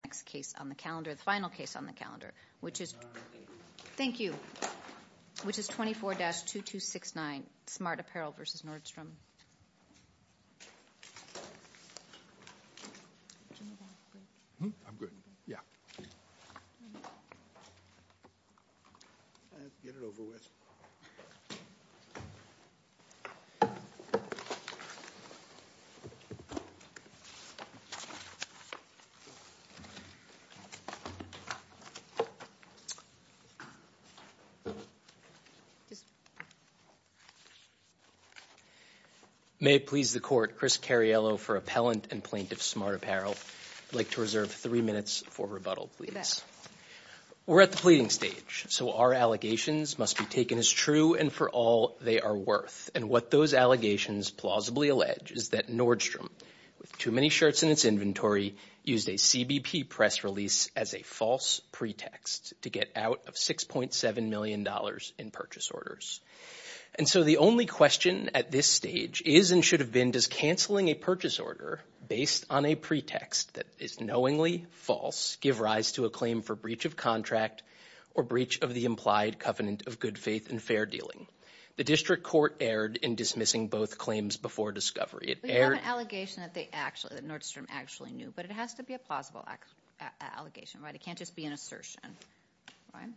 24-2269 Smart Apparel v. Nordstrom, Inc., 24-2269 Smart Apparel v. Nordstrom, Inc. May it please the Court, Chris Cariello for Appellant and Plaintiff Smart Apparel. I'd like to reserve three minutes for rebuttal, please. We're at the pleading stage, so our allegations must be taken as true and for all they are worth. And what those allegations plausibly allege is that Nordstrom, with too many shirts in its inventory, used a CBP press release as a false pretext to get out of $6.7 million in purchase orders. And so the only question at this stage is and should have been, does canceling a purchase order based on a pretext that is knowingly false give rise to a claim for breach of contract or breach of the implied covenant of good faith and fair dealing? The District Court erred in dismissing both claims before discovery. But you have an allegation that Nordstrom actually knew, but it has to be a plausible allegation, right? It can't just be an assertion, right?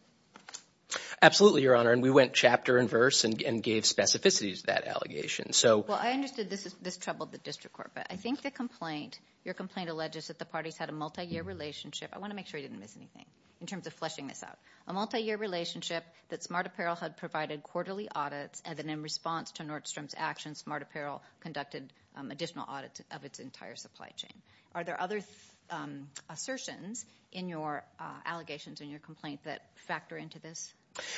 Absolutely, Your Honor, and we went chapter and verse and gave specificities to that allegation. Well, I understood this troubled the District Court, but I think the complaint, your complaint alleges that the parties had a multi-year relationship, I want to make sure I didn't miss anything in terms of fleshing this out, a multi-year relationship that Smart Apparel had provided quarterly audits and then in response to Nordstrom's actions, Smart Apparel conducted additional audits of its entire supply chain. Are there other assertions in your allegations, in your complaint that factor into this?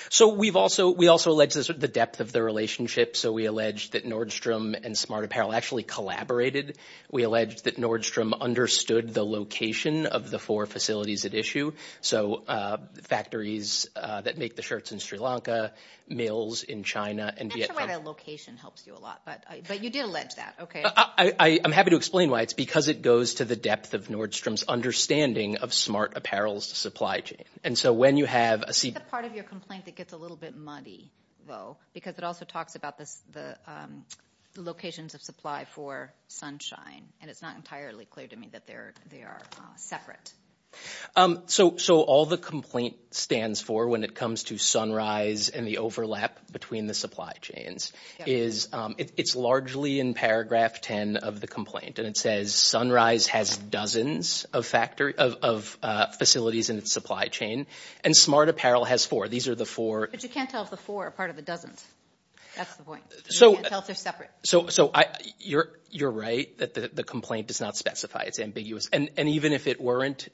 So we've also, we also allege this with the depth of the relationship. So we allege that Nordstrom and Smart Apparel actually collaborated. We allege that Nordstrom understood the location of the four facilities at issue. So factories that make the shirts in Sri Lanka, mills in China and Vietnam. I know that location helps you a lot, but you did allege that, okay. I'm happy to explain why. It's because it goes to the depth of Nordstrom's understanding of Smart Apparel's supply chain. And so when you have a... What's the part of your complaint that gets a little bit muddy, though? Because it also talks about the locations of supply for Sunshine, and it's not entirely clear to me that they are separate. So all the complaint stands for when it comes to Sunrise and the overlap between the supply chains is, it's largely in paragraph 10 of the complaint. And it says Sunrise has dozens of factories, of facilities in its supply chain, and Smart Apparel has four. These are the four. But you can't tell if the four are part of the dozens. That's the point. So... You can't tell if they're separate. So, so I, you're, you're right that the complaint does not specify. It's ambiguous. And even if it weren't,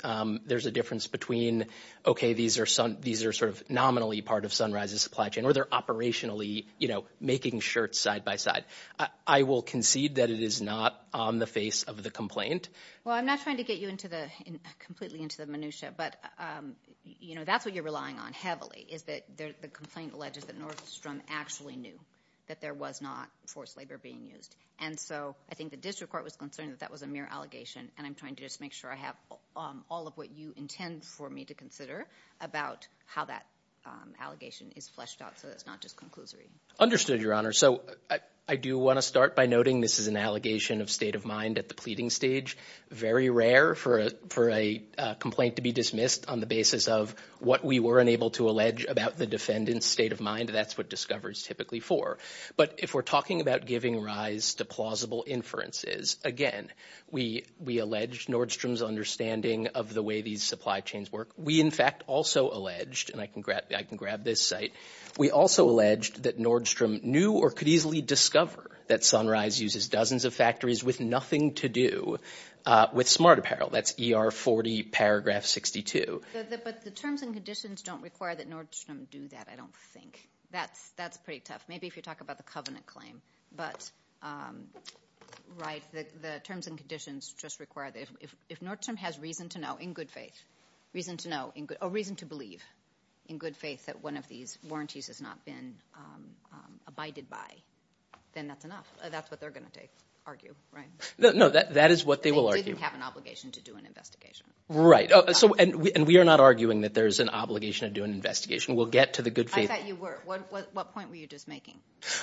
there's a difference between, okay, these are some, these are sort of nominally part of Sunrise's supply chain, or they're operationally, you know, making shirts side by side. I will concede that it is not on the face of the complaint. Well, I'm not trying to get you into the, completely into the minutiae, but, you know, that's what you're relying on heavily, is that the complaint alleges that Nordstrom actually knew that there was not forced labor being used. And so I think the district court was concerned that that was a mere allegation, and I'm trying to just make sure I have all of what you intend for me to consider about how that allegation is fleshed out so that it's not just conclusory. Understood, Your Honor. So I do want to start by noting this is an allegation of state of mind at the pleading stage. Very rare for a, for a complaint to be dismissed on the basis of what we were unable to allege about the defendant's state of mind. That's what discovery is typically for. But if we're talking about giving rise to plausible inferences, again, we, we alleged Nordstrom's understanding of the way these supply chains work. We in fact also alleged, and I can grab, I can grab this site. We also alleged that Nordstrom knew or could easily discover that Sunrise uses dozens of factories with nothing to do with smart apparel. That's ER 40 paragraph 62. But the terms and conditions don't require that Nordstrom do that, I don't think. That's, that's pretty tough. Maybe if you talk about the covenant claim, but, right, the, the terms and conditions just require that if, if, if Nordstrom has reason to know in good faith, reason to know in good, or reason to believe in good faith that one of these warranties has not been abided by, then that's enough. That's what they're going to take, argue, right? No, no, that, that is what they will argue. They didn't have an obligation to do an investigation. Right. So, and we, and we are not arguing that there's an obligation to do an investigation. We'll get to the good faith. I thought you were. What, what, what point were you just making?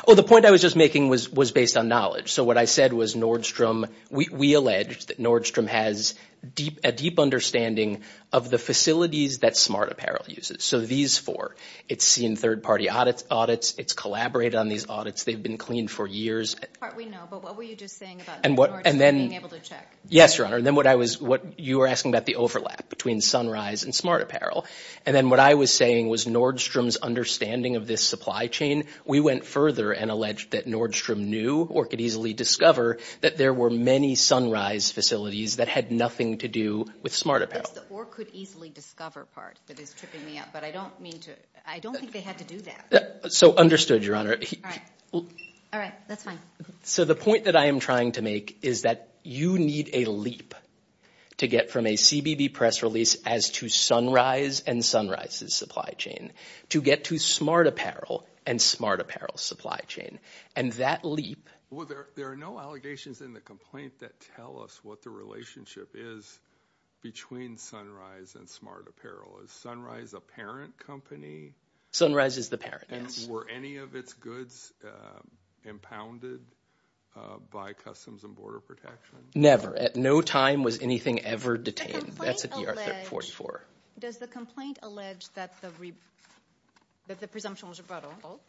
Oh, the point I was just making was, was based on knowledge. So what I said was Nordstrom, we, we alleged that Nordstrom has deep, a deep understanding of the facilities that smart apparel uses. So these four, it's seen third party audits, audits, it's collaborated on these audits. They've been cleaned for years. We know, but what were you just saying about Nordstrom being able to check? Yes, Your Honor. And then what I was, what you were asking about the overlap between Sunrise and smart apparel. And then what I was saying was Nordstrom's understanding of this supply chain. We went further and alleged that Nordstrom knew or could easily discover that there were many Sunrise facilities that had nothing to do with smart apparel. Or could easily discover part that is tripping me up, but I don't mean to, I don't think they had to do that. So understood, Your Honor. All right. All right. That's fine. So the point that I am trying to make is that you need a leap to get from a CBB press release as to Sunrise and Sunrise's supply chain to get to smart apparel and smart apparel supply chain. And that leap. Well, there are no allegations in the complaint that tell us what the relationship is between Sunrise and smart apparel. Is Sunrise a parent company? Sunrise is the parent, yes. And were any of its goods impounded by Customs and Border Protection? Never. At no time was anything ever detained. Does the complaint allege that the presumption was rebuttal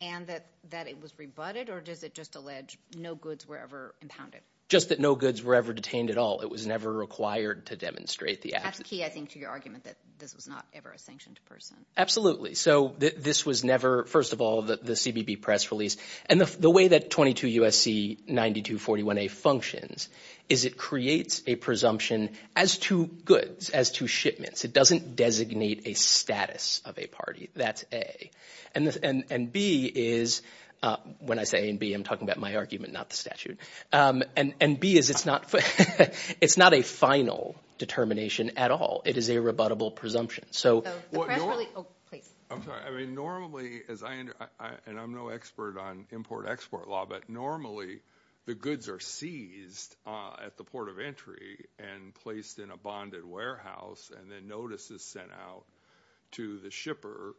and that it was rebutted or does it just allege no goods were ever impounded? Just that no goods were ever detained at all. It was never required to demonstrate the absence. That's key, I think, to your argument that this was not ever a sanctioned person. Absolutely. So this was never, first of all, the CBB press release. And the way that 22 U.S.C. 9241A functions is it creates a presumption as to goods, as to shipments. It doesn't designate a status of a party. That's A. And B is, when I say A and B, I'm talking about my argument, not the statute. And B is it's not a final determination at all. It is a rebuttable presumption. So the press release... Oh, please. I'm sorry. I mean, normally, and I'm no expert on import-export law, but normally the goods are seized at the port of entry and placed in a bonded warehouse and then notices sent out to the shipper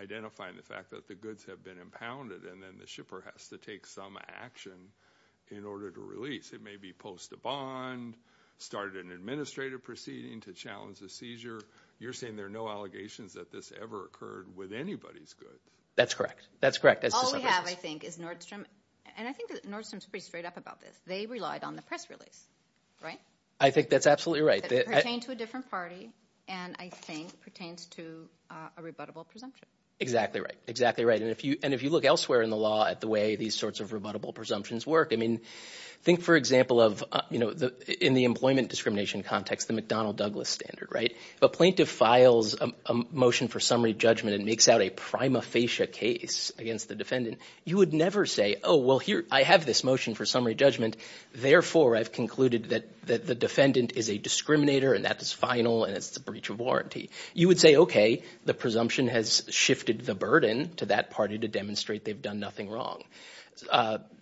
identifying the fact that the goods have been impounded and then the shipper has to take some action in order to release. It may be post a bond, started an administrative proceeding to challenge the seizure. You're saying there are no allegations that this ever occurred with anybody's goods. That's correct. That's correct. All we have, I think, is Nordstrom. And I think Nordstrom is pretty straight up about this. They relied on the press release, right? I think that's absolutely right. That pertained to a different party and I think pertains to a rebuttable presumption. Exactly right. Exactly right. And if you look elsewhere in the law at the way these sorts of rebuttable presumptions work, I mean, think for example of, you know, in the employment discrimination context, the McDonnell Douglas standard, right? If a plaintiff files a motion for summary judgment and makes out a prima facie case against the defendant, you would never say, oh, well, here, I have this motion for summary judgment, therefore I've concluded that the defendant is a discriminator and that is final and it's a breach of warranty. You would say, okay, the presumption has shifted the burden to that party to demonstrate they've done nothing wrong.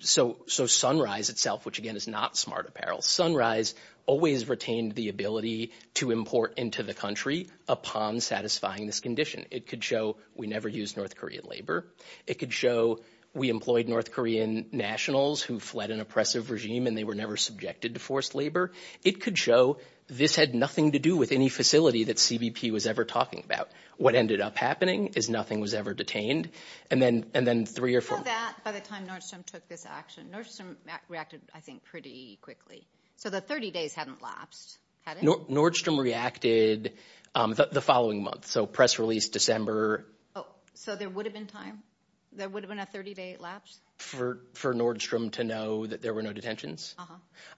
So Sunrise itself, which again is not smart apparel, Sunrise always retained the ability to import into the country upon satisfying this condition. It could show we never used North Korean labor. It could show we employed North Korean nationals who fled an oppressive regime and they were never subjected to forced labor. It could show this had nothing to do with any facility that CBP was ever talking about. What ended up happening is nothing was ever detained. And then, and then three or four. By the time Nordstrom took this action, Nordstrom reacted, I think, pretty quickly. So the 30 days hadn't lapsed, had it? Nordstrom reacted the following month. So press release, December. So there would have been time, there would have been a 30 day lapse? For Nordstrom to know that there were no detentions.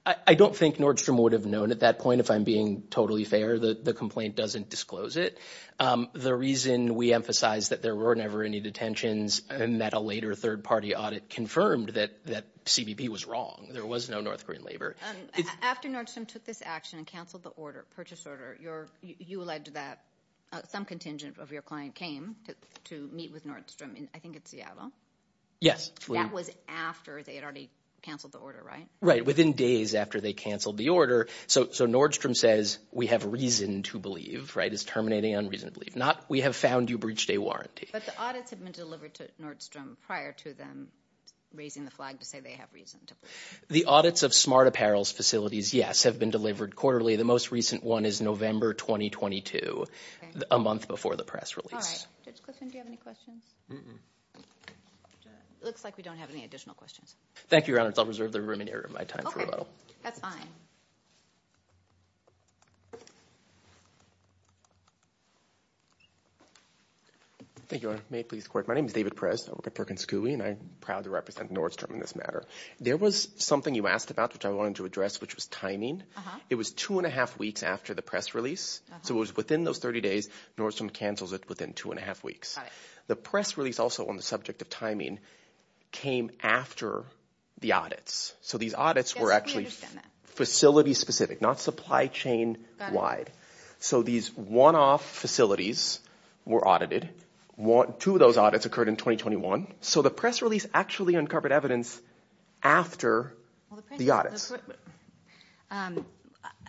I don't think Nordstrom would have known at that point, if I'm being totally fair, that the complaint doesn't disclose it. The reason we emphasize that there were never any detentions and that a later third party audit confirmed that, that CBP was wrong. There was no North Korean labor. After Nordstrom took this action and canceled the order, purchase order, you're, you alleged that some contingent of your client came to meet with Nordstrom in, I think it's Seattle? Yes. That was after they had already canceled the order, right? Right. Within days after they canceled the order. So, so Nordstrom says we have reason to believe, right? It's terminating on reason to believe. Not we have found you breach day warranty. But the audits had been delivered to Nordstrom prior to them raising the flag to say they have reason to believe. The audits of smart apparels facilities, yes, have been delivered quarterly. The most recent one is November 2022, a month before the press release. Judge Clifton, do you have any questions? Mm-mm. It looks like we don't have any additional questions. Thank you, Your Honor. I'll reserve the remaining area of my time for rebuttal. That's fine. Thank you, Your Honor. May it please the court. My name is David Perez. I work at Perkins Cooley, and I'm proud to represent Nordstrom in this matter. There was something you asked about, which I wanted to address, which was timing. It was two and a half weeks after the press release. So it was within those 30 days. Nordstrom cancels it within two and a half weeks. The press release also on the subject of timing came after the audits. So these audits were actually facility specific, not supply chain wide. So these one-off facilities were audited. Two of those audits occurred in 2021. So the press release actually uncovered evidence after the audits.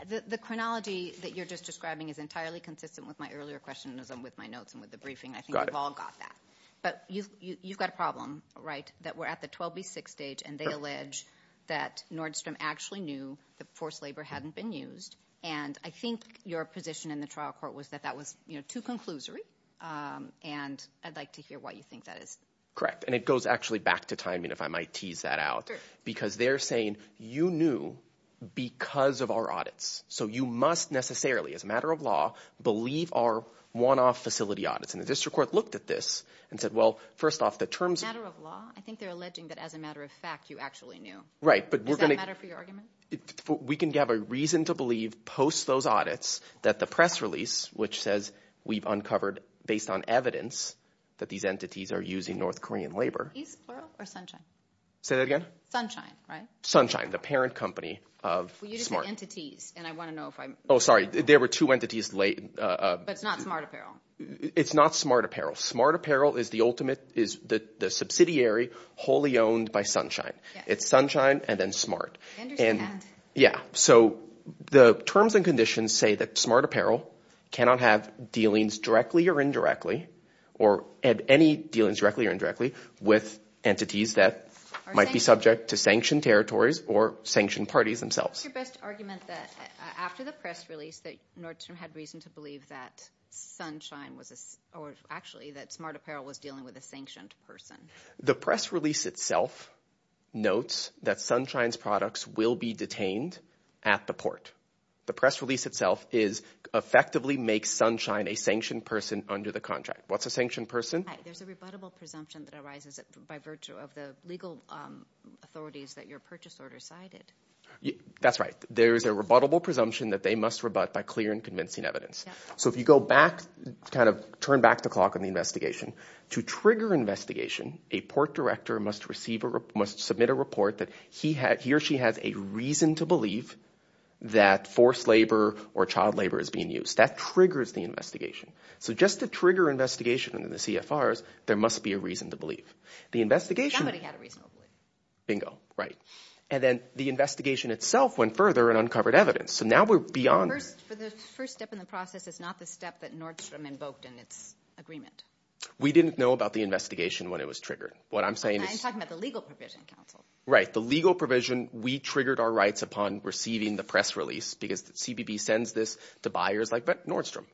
The chronology that you're just describing is entirely consistent with my earlier question as I'm with my notes and with the briefing. I think we've all got that. Got it. But you've got a problem, right, that we're at the 12B6 stage, and they allege that Nordstrom actually knew that forced labor hadn't been used. And I think your position in the trial court was that that was too conclusory, and I'd like to hear what you think that is. And it goes actually back to timing, if I might tease that out. Because they're saying, you knew because of our audits. So you must necessarily, as a matter of law, believe our one-off facility audits. And the district court looked at this and said, well, first off, the terms- As a matter of law? I think they're alleging that as a matter of fact, you actually knew. Right. But we're going to- Does that matter for your argument? We can have a reason to believe post those audits that the press release, which says we've uncovered, based on evidence, that these entities are using North Korean labor- East, plural? Or Sunshine? Say that again? Sunshine, right? Sunshine. The parent company of Smart. Well, you just said entities. And I want to know if I'm- Oh, sorry. There were two entities late- But it's not Smart Apparel. It's not Smart Apparel. Smart Apparel is the ultimate, is the subsidiary wholly owned by Sunshine. It's Sunshine and then Smart. I understand. Yeah. So the terms and conditions say that Smart Apparel cannot have dealings directly or indirectly, or any dealings directly or indirectly, with entities that might be subject to sanctioned territories or sanctioned parties themselves. What's your best argument that after the press release that Nordstrom had reason to believe that Sunshine was a- or actually that Smart Apparel was dealing with a sanctioned person? The press release itself notes that Sunshine's products will be detained at the port. The press release itself is effectively make Sunshine a sanctioned person under the contract. What's a sanctioned person? There's a rebuttable presumption that arises by virtue of the legal authorities that your purchase order cited. That's right. There's a rebuttable presumption that they must rebut by clear and convincing evidence. So if you go back, kind of turn back the clock on the investigation, to trigger investigation, a port director must receive a- must submit a report that he had- he or she has a reason to believe that forced labor or child labor is being used. That triggers the investigation. So just to trigger investigation in the CFRs, there must be a reason to believe. The investigation- Somebody had a reason to believe. Bingo. Right. And then the investigation itself went further and uncovered evidence. So now we're beyond- The first step in the process is not the step that Nordstrom invoked in its agreement. We didn't know about the investigation when it was triggered. What I'm saying is- I'm talking about the legal provision, counsel. Right. The legal provision, we triggered our rights upon receiving the press release because CBB sends this to buyers like Nordstrom.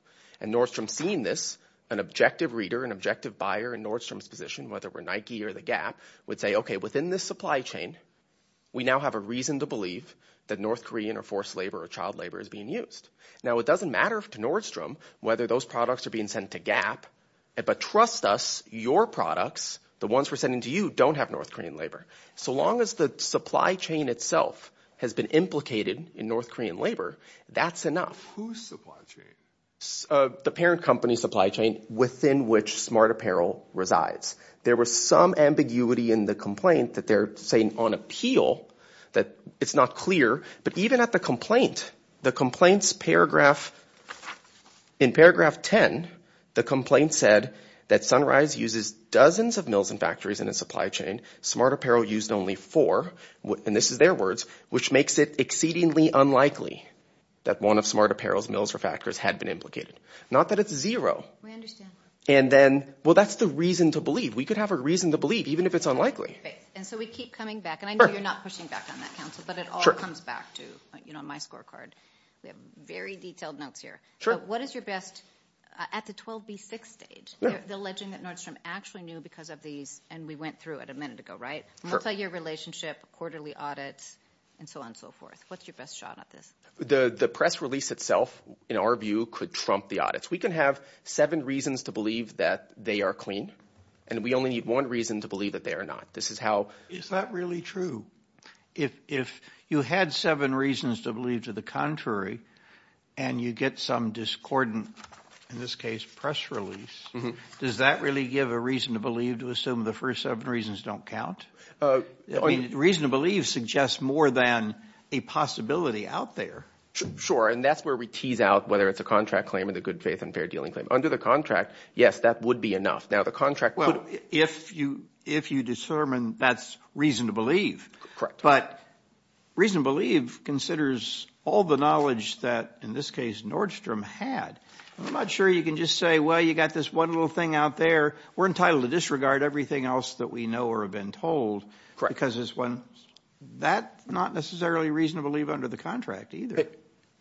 And Nordstrom seeing this, an objective reader, an objective buyer in Nordstrom's position, whether we're Nike or The Gap, would say, okay, within this supply chain, we now have a reason to believe that North Korean or forced labor or child labor is being used. Now it doesn't matter to Nordstrom whether those products are being sent to Gap. But trust us, your products, the ones we're sending to you, don't have North Korean labor. So long as the supply chain itself has been implicated in North Korean labor, that's enough. Whose supply chain? The parent company's supply chain within which Smart Apparel resides. There was some ambiguity in the complaint that they're saying on appeal, that it's not clear. But even at the complaint, the complaint's paragraph, in paragraph 10, the complaint said that Sunrise uses dozens of mills and factories in its supply chain, Smart Apparel used only four, and this is their words, which makes it exceedingly unlikely that one of Smart Apparel's mills or factories had been implicated. Not that it's zero. We understand. And then, well, that's the reason to believe. We could have a reason to believe, even if it's unlikely. And so we keep coming back. And I know you're not pushing back on that, counsel, but it all comes back to, you know, my scorecard. We have very detailed notes here. What is your best, at the 12B6 stage, the legend that Nordstrom actually knew because of these, and we went through it a minute ago, right? Multi-year relationship, quarterly audits, and so on and so forth. What's your best shot at this? The press release itself, in our view, could trump the audits. We can have seven reasons to believe that they are clean, and we only need one reason to believe that they are not. This is how- Is that really true? If you had seven reasons to believe to the contrary, and you get some discordant, in this case, press release, does that really give a reason to believe to assume the first seven reasons don't count? Reason to believe suggests more than a possibility out there. Sure. That's where we tease out whether it's a contract claim or the good faith and fair dealing claim. Under the contract, yes, that would be enough. Now, the contract- Well, if you determine that's reason to believe, but reason to believe considers all the knowledge that, in this case, Nordstrom had. I'm not sure you can just say, well, you got this one little thing out there. We're entitled to disregard everything else that we know or have been told because it's one- Correct. That's not true under the contract either.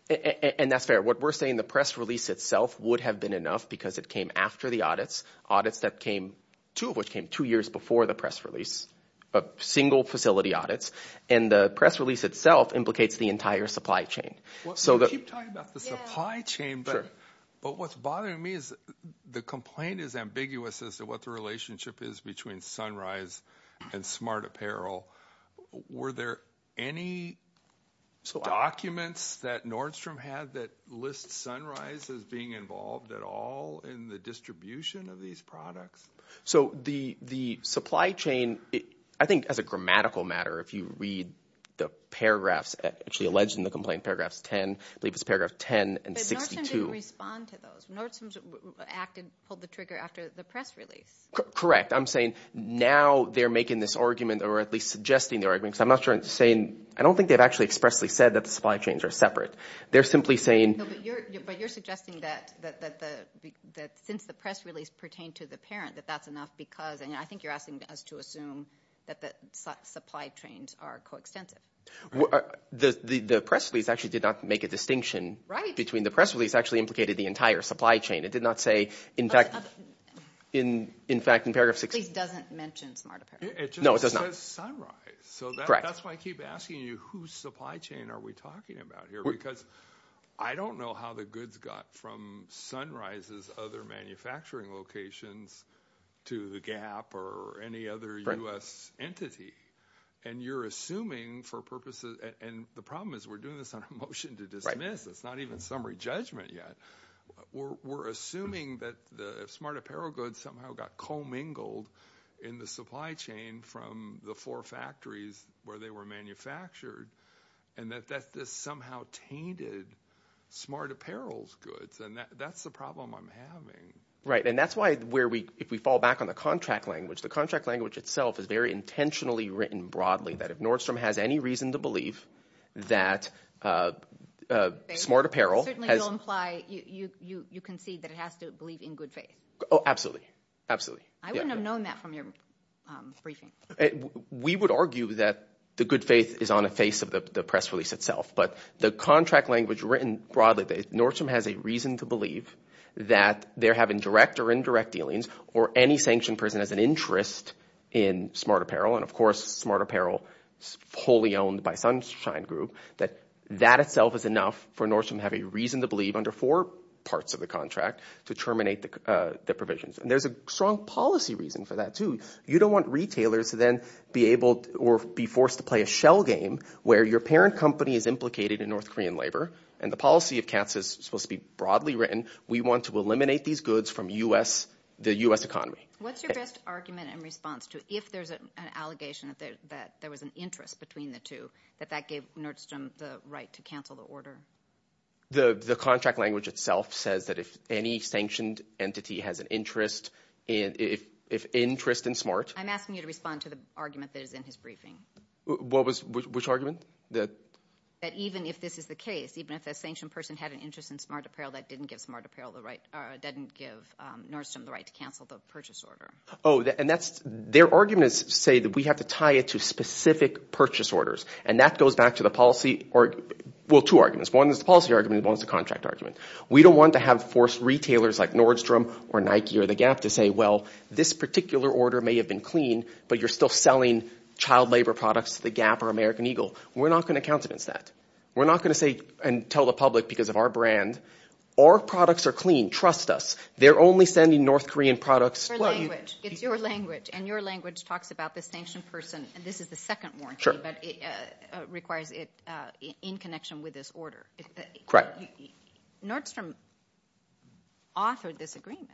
And that's fair. What we're saying, the press release itself would have been enough because it came after the audits, audits that came, two of which came two years before the press release, but single facility audits, and the press release itself implicates the entire supply chain. Well, you keep talking about the supply chain, but what's bothering me is the complaint is ambiguous as to what the relationship is between Sunrise and Smart Apparel. Were there any documents that Nordstrom had that lists Sunrise as being involved at all in the distribution of these products? So the supply chain, I think as a grammatical matter, if you read the paragraphs actually alleged in the complaint, paragraphs 10, I believe it's paragraph 10 and 62- But Nordstrom didn't respond to those. Nordstrom acted, pulled the trigger after the press release. Correct. In fact, I'm saying now they're making this argument, or at least suggesting the argument, because I'm not sure I'm saying, I don't think they've actually expressly said that the supply chains are separate. They're simply saying- No, but you're suggesting that since the press release pertained to the parent, that that's enough because, and I think you're asking us to assume that the supply chains are coextensive. The press release actually did not make a distinction between the press release actually implicated the entire supply chain. It did not say, in fact, in paragraph 60- The press release doesn't mention Smart Apparel. No, it does not. It just says Sunrise. Correct. So that's why I keep asking you, whose supply chain are we talking about here? Because I don't know how the goods got from Sunrise's other manufacturing locations to the Gap or any other US entity, and you're assuming for purposes, and the problem is we're doing this on a motion to dismiss, it's not even summary judgment yet. We're assuming that the Smart Apparel goods somehow got co-mingled in the supply chain from the four factories where they were manufactured, and that this somehow tainted Smart Apparel's goods, and that's the problem I'm having. Right, and that's why if we fall back on the contract language, the contract language itself is very intentionally written broadly, that if Nordstrom has any reason to believe that Smart Apparel has- You concede that it has to believe in good faith. Oh, absolutely. Absolutely. I wouldn't have known that from your briefing. We would argue that the good faith is on the face of the press release itself, but the contract language written broadly, Nordstrom has a reason to believe that they're having direct or indirect dealings, or any sanctioned person has an interest in Smart Apparel, and of course Smart Apparel is wholly owned by Sunshine Group, that that itself is enough for Nordstrom to have a reason to believe under four parts of the contract to terminate the provisions. And there's a strong policy reason for that, too. You don't want retailers to then be able or be forced to play a shell game where your parent company is implicated in North Korean labor, and the policy of cancel is supposed to be broadly written. We want to eliminate these goods from the U.S. economy. What's your best argument and response to if there's an allegation that there was an interest between the two, that that gave Nordstrom the right to cancel the order? The contract language itself says that if any sanctioned entity has an interest in Smart... I'm asking you to respond to the argument that is in his briefing. Which argument? That even if this is the case, even if the sanctioned person had an interest in Smart Apparel, that didn't give Nordstrom the right to cancel the purchase order. Oh, and that's... Their arguments say that we have to tie it to specific purchase orders, and that goes back to the policy... Well, two arguments. One is the policy argument, and one is the contract argument. We don't want to have forced retailers like Nordstrom or Nike or The Gap to say, well, this particular order may have been clean, but you're still selling child labor products to The Gap or American Eagle. We're not going to countenance that. We're not going to say and tell the public because of our brand, our products are clean. Trust us. They're only sending North Korean products... It's your language, and your language talks about the sanctioned person, and this is the second warranty, but it requires it in connection with this order. Nordstrom authored this agreement.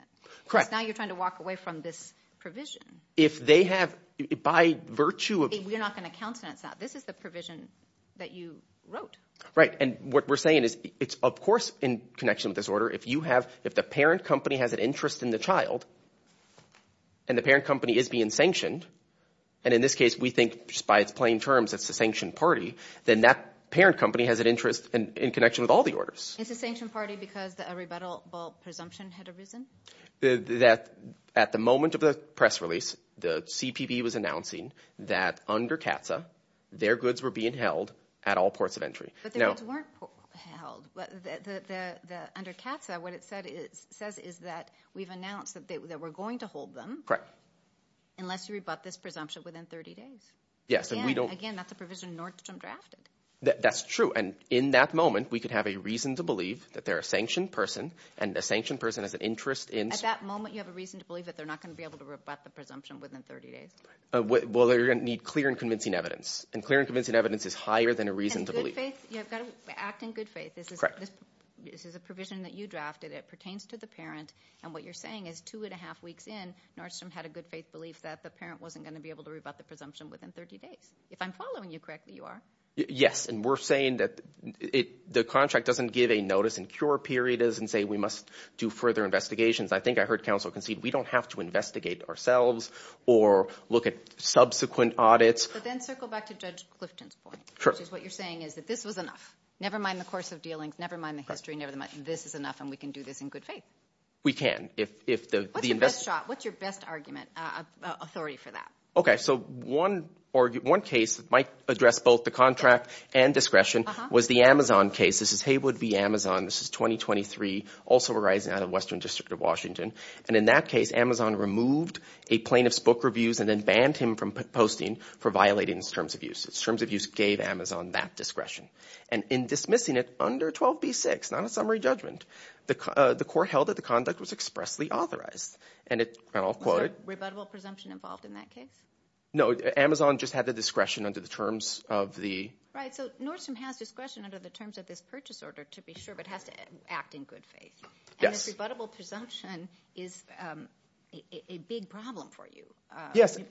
Correct. So now you're trying to walk away from this provision. If they have... By virtue of... You're not going to countenance that. This is the provision that you wrote. Right. And what we're saying is, it's of course in connection with this order. If you have... If the parent company has an interest in the child, and the parent company is being sanctioned, and in this case, we think just by its plain terms, it's a sanctioned party, then that parent company has an interest in connection with all the orders. It's a sanctioned party because a rebuttable presumption had arisen? At the moment of the press release, the CPB was announcing that under CAATSA, their goods were being held at all ports of entry. But their goods weren't held. Under CAATSA, what it says is that we've announced that we're going to hold them. Correct. Unless you rebut this presumption within 30 days. Yes, and we don't... Again, that's a provision Nordstrom drafted. That's true. And in that moment, we could have a reason to believe that they're a sanctioned person, and a sanctioned person has an interest in... At that moment, you have a reason to believe that they're not going to be able to rebut the presumption within 30 days. Right. Well, they're going to need clear and convincing evidence. And clear and convincing evidence is higher than a reason to believe. And good faith. Correct. You have got to act in good faith. Correct. This is a provision that you drafted. It pertains to the parent, and what you're saying is two and a half weeks in, Nordstrom had a good faith belief that the parent wasn't going to be able to rebut the presumption within 30 days. If I'm following you correctly, you are. Yes, and we're saying that the contract doesn't give a notice and cure period and say we must do further investigations. I think I heard counsel concede we don't have to investigate ourselves or look at subsequent audits. But then circle back to Judge Clifton's point. Sure. Which is what you're saying is that this was enough. Never mind the course of dealings. Never mind the history. This is enough, and we can do this in good faith. We can. What's your best shot? What's your best argument, authority for that? Okay, so one case that might address both the contract and discretion was the Amazon case. This is Haywood v. Amazon. This is 2023, also arising out of Western District of Washington. And in that case, Amazon removed a plaintiff's book reviews and then banned him from posting for violating his terms of use. His terms of use gave Amazon that discretion. And in dismissing it under 12b-6, not a summary judgment, the court held that the conduct was expressly authorized. And I'll quote. Was there rebuttable presumption involved in that case? No. Amazon just had the discretion under the terms of the... Right. So Nordstrom has discretion under the terms of this purchase order, to be sure, but it has to act in good faith. Yes. And this rebuttable presumption is a big problem for you,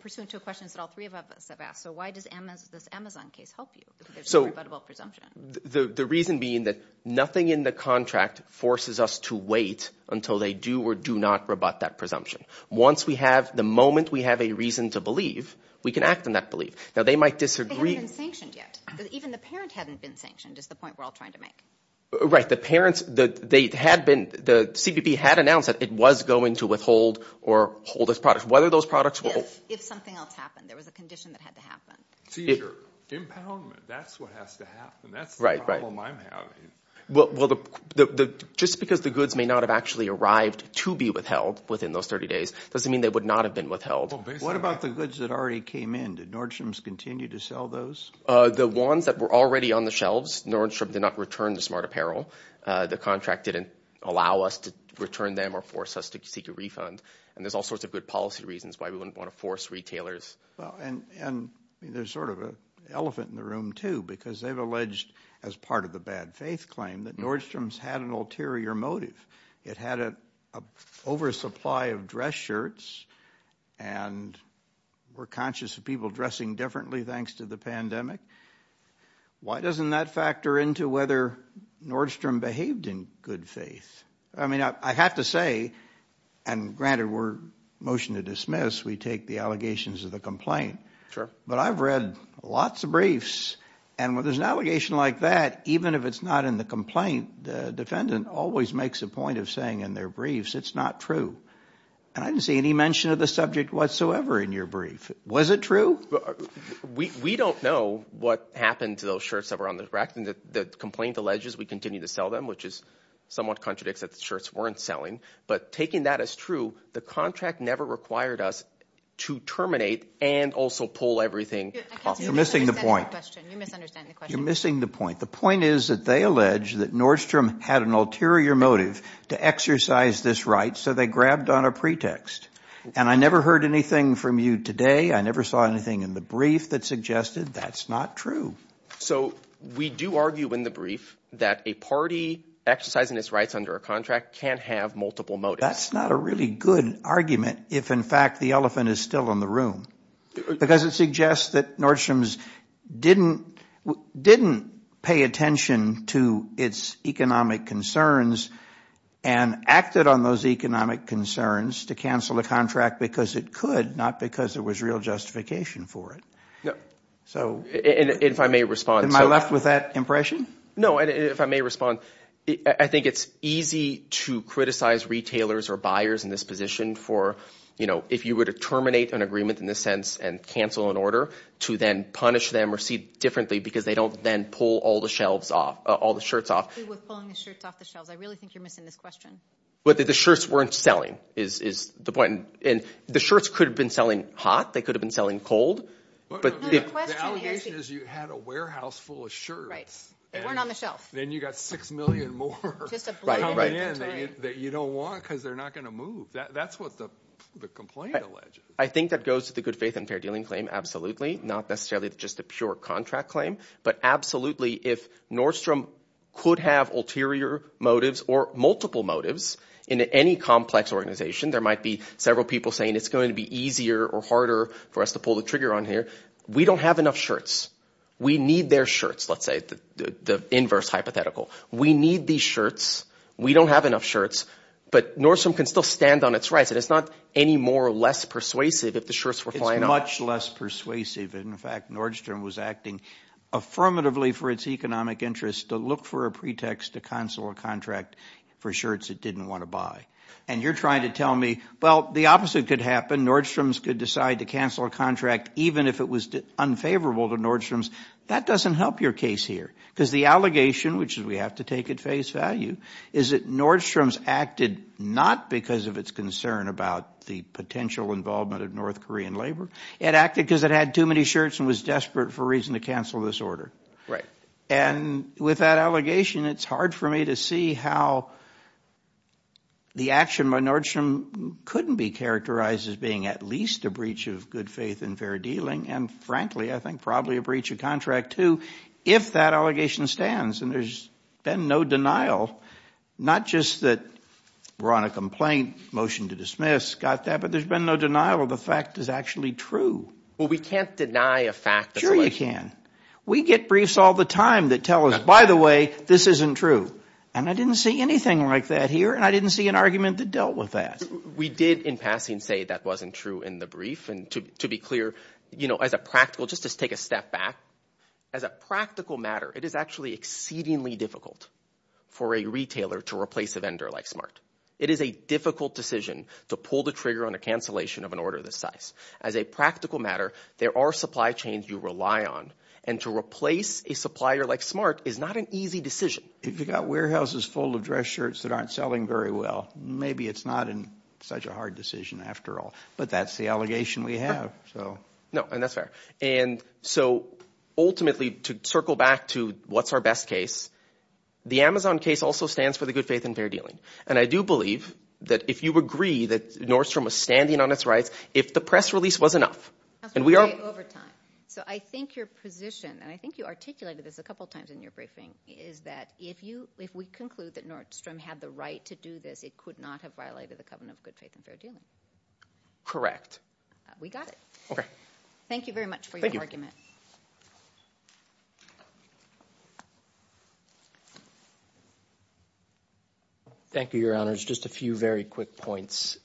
pursuant to questions that all three of us have asked. So why does this Amazon case help you, if there's no rebuttable presumption? The reason being that nothing in the contract forces us to wait until they do or do not rebut that presumption. Once we have... The moment we have a reason to believe, we can act on that belief. Now, they might disagree... They haven't been sanctioned yet. Even the parent hadn't been sanctioned, is the point we're all trying to make. Right. The parents... They had been... The CBP had announced that it was going to withhold or hold its products. Whether those products were... If. If something else happened. There was a condition that had to happen. Impoundment. That's what has to happen. That's the problem I'm having. Well, just because the goods may not have actually arrived to be withheld within those 30 days, doesn't mean they would not have been withheld. What about the goods that already came in? Did Nordstrom's continue to sell those? The ones that were already on the shelves, Nordstrom did not return the smart apparel. The contract didn't allow us to return them or force us to seek a refund. There's all sorts of good policy reasons why we wouldn't want to force retailers. There's sort of an elephant in the room, too, because they've alleged, as part of the bad faith claim, that Nordstrom's had an ulterior motive. It had an oversupply of dress shirts, and we're conscious of people dressing differently thanks to the pandemic. Why doesn't that factor into whether Nordstrom behaved in good faith? I have to say, and granted we're motion to dismiss, we take the allegations of the complaint, but I've read lots of briefs, and when there's an allegation like that, even if it's not in the complaint, the defendant always makes a point of saying in their briefs, it's not true. I didn't see any mention of the subject whatsoever in your brief. Was it true? We don't know what happened to those shirts that were on the rack, and the complaint alleges we continue to sell them, which is somewhat contradicts that the shirts weren't selling, but taking that as true, the contract never required us to terminate and also pull everything off. You're missing the point. You're misunderstanding the question. You're missing the point. The point is that they allege that Nordstrom had an ulterior motive to exercise this right, so they grabbed on a pretext, and I never heard anything from you today. I never saw anything in the brief that suggested that's not true. So we do argue in the brief that a party exercising its rights under a contract can have multiple motives. That's not a really good argument if, in fact, the elephant is still in the room, because it suggests that Nordstrom didn't pay attention to its economic concerns and acted on those economic concerns to cancel the contract because it could, not because there was real justification for it. So am I left with that impression? If I may respond, I think it's easy to criticize retailers or buyers in this position for, you know, if you were to terminate an agreement in this sense and cancel an order, to then punish them or see differently because they don't then pull all the shirts off. I really think you're missing this question. Whether the shirts weren't selling is the point, and the shirts could have been selling hot. They could have been selling cold. The allegation is you had a warehouse full of shirts. They weren't on the shelf. And then you got six million more coming in that you don't want because they're not going to move. That's what the complaint alleges. I think that goes to the good faith and fair dealing claim, absolutely. Not necessarily just a pure contract claim, but absolutely if Nordstrom could have ulterior motives or multiple motives in any complex organization, there might be several people saying it's going to be easier or harder for us to pull the trigger on here. We don't have enough shirts. We need their shirts, let's say, the inverse hypothetical. We need these shirts. We don't have enough shirts. But Nordstrom can still stand on its rights, and it's not any more or less persuasive if the shirts were flying off. It's much less persuasive. In fact, Nordstrom was acting affirmatively for its economic interests to look for a pretext to cancel a contract for shirts it didn't want to buy. And you're trying to tell me, well, the opposite could happen. Nordstrom's could decide to cancel a contract even if it was unfavorable to Nordstrom's. That doesn't help your case here because the allegation, which we have to take at face value, is that Nordstrom's acted not because of its concern about the potential involvement of North Korean labor. It acted because it had too many shirts and was desperate for reason to cancel this order. Right. And with that allegation, it's hard for me to see how the action by Nordstrom couldn't be characterized as being at least a breach of good faith and fair dealing, and frankly, I think probably a breach of contract too, if that allegation stands. And there's been no denial, not just that we're on a complaint, motion to dismiss, got that, but there's been no denial of the fact is actually true. Well, we can't deny a fact. Sure you can. We get briefs all the time that tell us, by the way, this isn't true, and I didn't see anything like that here, and I didn't see an argument that dealt with that. We did, in passing, say that wasn't true in the brief, and to be clear, you know, as a practical, just to take a step back, as a practical matter, it is actually exceedingly difficult for a retailer to replace a vendor like Smart. It is a difficult decision to pull the trigger on a cancellation of an order this size. As a practical matter, there are supply chains you rely on, and to replace a supplier like Smart is not an easy decision. If you've got warehouses full of dress shirts that aren't selling very well, maybe it's not such a hard decision after all, but that's the allegation we have, so. No, and that's fair, and so ultimately, to circle back to what's our best case, the Amazon case also stands for the good faith and fair dealing, and I do believe that if you agree that Nordstrom was standing on its rights, if the press release was enough, and we are over time. So, I think your position, and I think you articulated this a couple times in your briefing, is that if you, if we conclude that Nordstrom had the right to do this, it could not have violated the covenant of good faith and fair dealing. Correct. We got it. Okay. Thank you very much for your argument. Thank you, your honors. Just a few very quick points.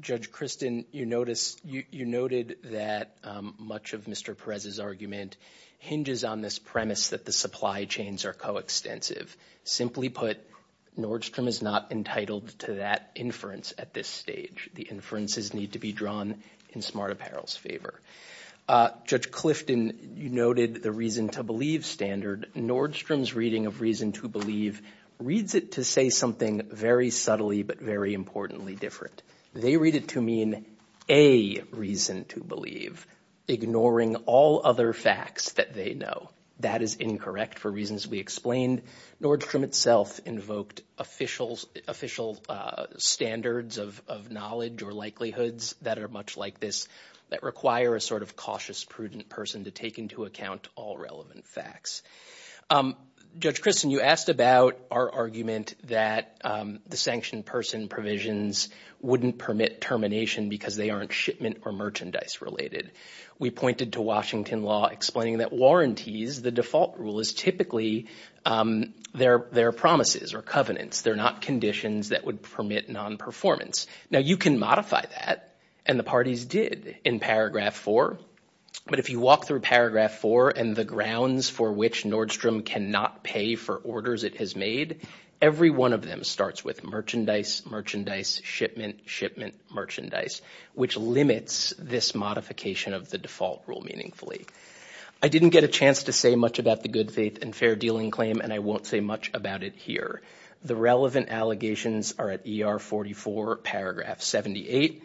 Judge Kristin, you noticed, you noted that much of Mr. Perez's argument hinges on this premise that the supply chains are coextensive. Simply put, Nordstrom is not entitled to that inference at this stage. The inferences need to be drawn in Smart Apparel's favor. Judge Clifton, you noted the reason to believe standard. Nordstrom's reading of reason to believe reads it to say something very subtly, but very importantly different. They read it to mean a reason to believe, ignoring all other facts that they know. That is incorrect for reasons we explained. Nordstrom itself invoked official standards of knowledge or likelihoods that are much like this that require a sort of cautious, prudent person to take into account all relevant facts. Judge Kristin, you asked about our argument that the sanctioned person provisions wouldn't permit termination because they aren't shipment or merchandise related. We pointed to Washington law explaining that warranties, the default rule, is typically their promises or covenants. They're not conditions that would permit non-performance. Now, you can modify that, and the parties did in paragraph four, but if you walk through paragraph four and the grounds for which Nordstrom cannot pay for orders it has made, every one of them starts with merchandise, merchandise, shipment, shipment, merchandise, which limits this modification of the default rule meaningfully. I didn't get a chance to say much about the good faith and fair dealing claim, and I won't say much about it here. The relevant allegations are at ER44 paragraph 78.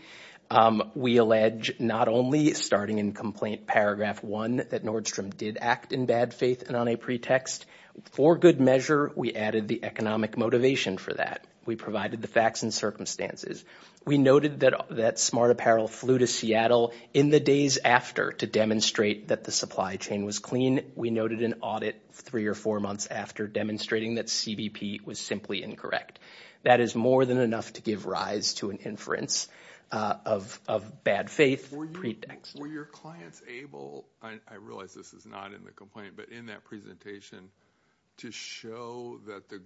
We allege not only starting in complaint paragraph one that Nordstrom did act in bad faith and on a pretext. For good measure, we added the economic motivation for that. We provided the facts and circumstances. We noted that Smart Apparel flew to Seattle in the days after to demonstrate that the supply chain was clean. We noted an audit three or four months after demonstrating that CBP was simply incorrect. That is more than enough to give rise to an inference of bad faith pretext. Were your clients able, I realize this is not in the complaint, but in that presentation to show that the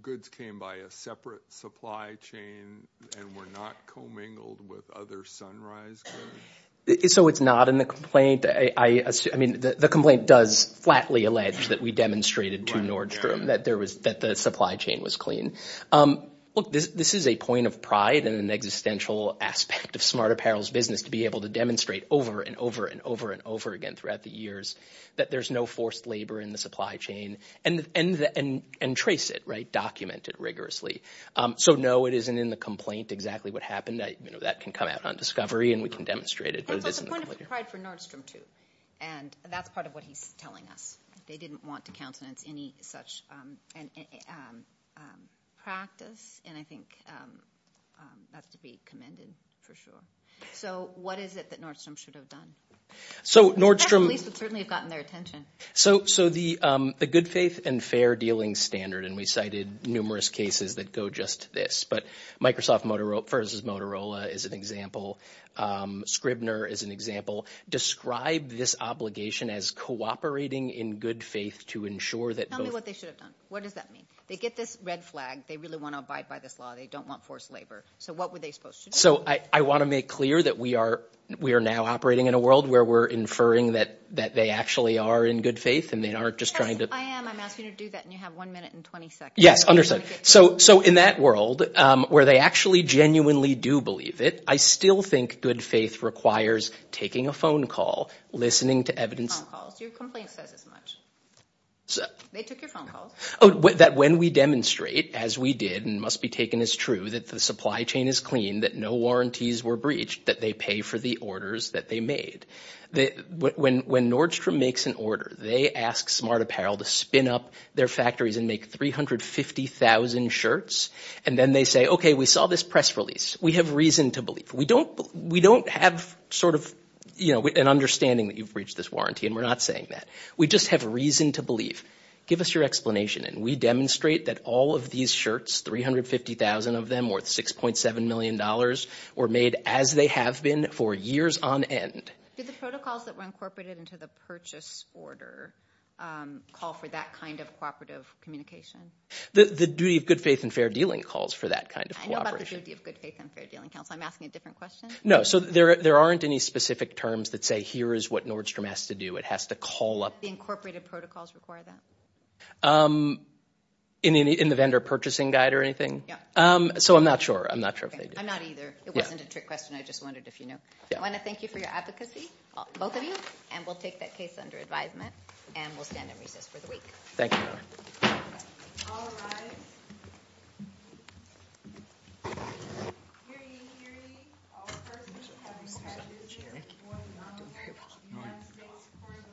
goods came by a separate supply chain and were not commingled with other Sunrise goods? So it's not in the complaint. The complaint does flatly allege that we demonstrated to Nordstrom that the supply chain was clean. This is a point of pride and an existential aspect of Smart Apparel's business to be able to demonstrate over and over and over and over again throughout the years that there's no forced labor in the supply chain and trace it, document it rigorously. So no, it isn't in the complaint exactly what happened. That can come out on discovery and we can demonstrate it. It's a point of pride for Nordstrom too. And that's part of what he's telling us. They didn't want to countenance any such practice and I think that's to be commended for sure. So what is it that Nordstrom should have done? So Nordstrom- The press release would certainly have gotten their attention. So the good faith and fair dealing standard, and we cited numerous cases that go just this, but Microsoft versus Motorola is an example. Scribner is an example. Describe this obligation as cooperating in good faith to ensure that- Tell me what they should have done. What does that mean? They get this red flag. They really want to abide by this law. They don't want forced labor. So what were they supposed to do? So I want to make clear that we are now operating in a world where we're inferring that they actually are in good faith and they aren't just trying to- Yes, I am. I'm asking you to do that and you have one minute and 20 seconds. Yes, understood. So in that world where they actually genuinely do believe it, I still think good faith requires taking a phone call, listening to evidence- Your complaint says as much. They took your phone calls. That when we demonstrate, as we did and must be taken as true, that the supply chain is clean, that no warranties were breached, that they pay for the orders that they made. When Nordstrom makes an order, they ask Smart Apparel to spin up their factories and make 350,000 shirts and then they say, okay, we saw this press release. We have reason to believe. We don't have sort of an understanding that you've breached this warranty and we're not saying that. We just have reason to believe. Give us your explanation and we demonstrate that all of these shirts, 350,000 of them worth $6.7 million, were made as they have been for years on end. Did the protocols that were incorporated into the purchase order call for that kind of cooperative communication? The duty of good faith and fair dealing calls for that kind of cooperation. I know about the duty of good faith and fair dealing counsel. I'm asking a different question? No, so there aren't any specific terms that say here is what Nordstrom has to do. It has to call up- The incorporated protocols require that? In the vendor purchasing guide or anything? Yeah. So I'm not sure. I'm not sure if they do. I'm not either. It wasn't a trick question. I just wondered if you knew. I want to thank you for your advocacy, both of you, and we'll take that case under advisement and we'll stand and resist for the week. Thank you.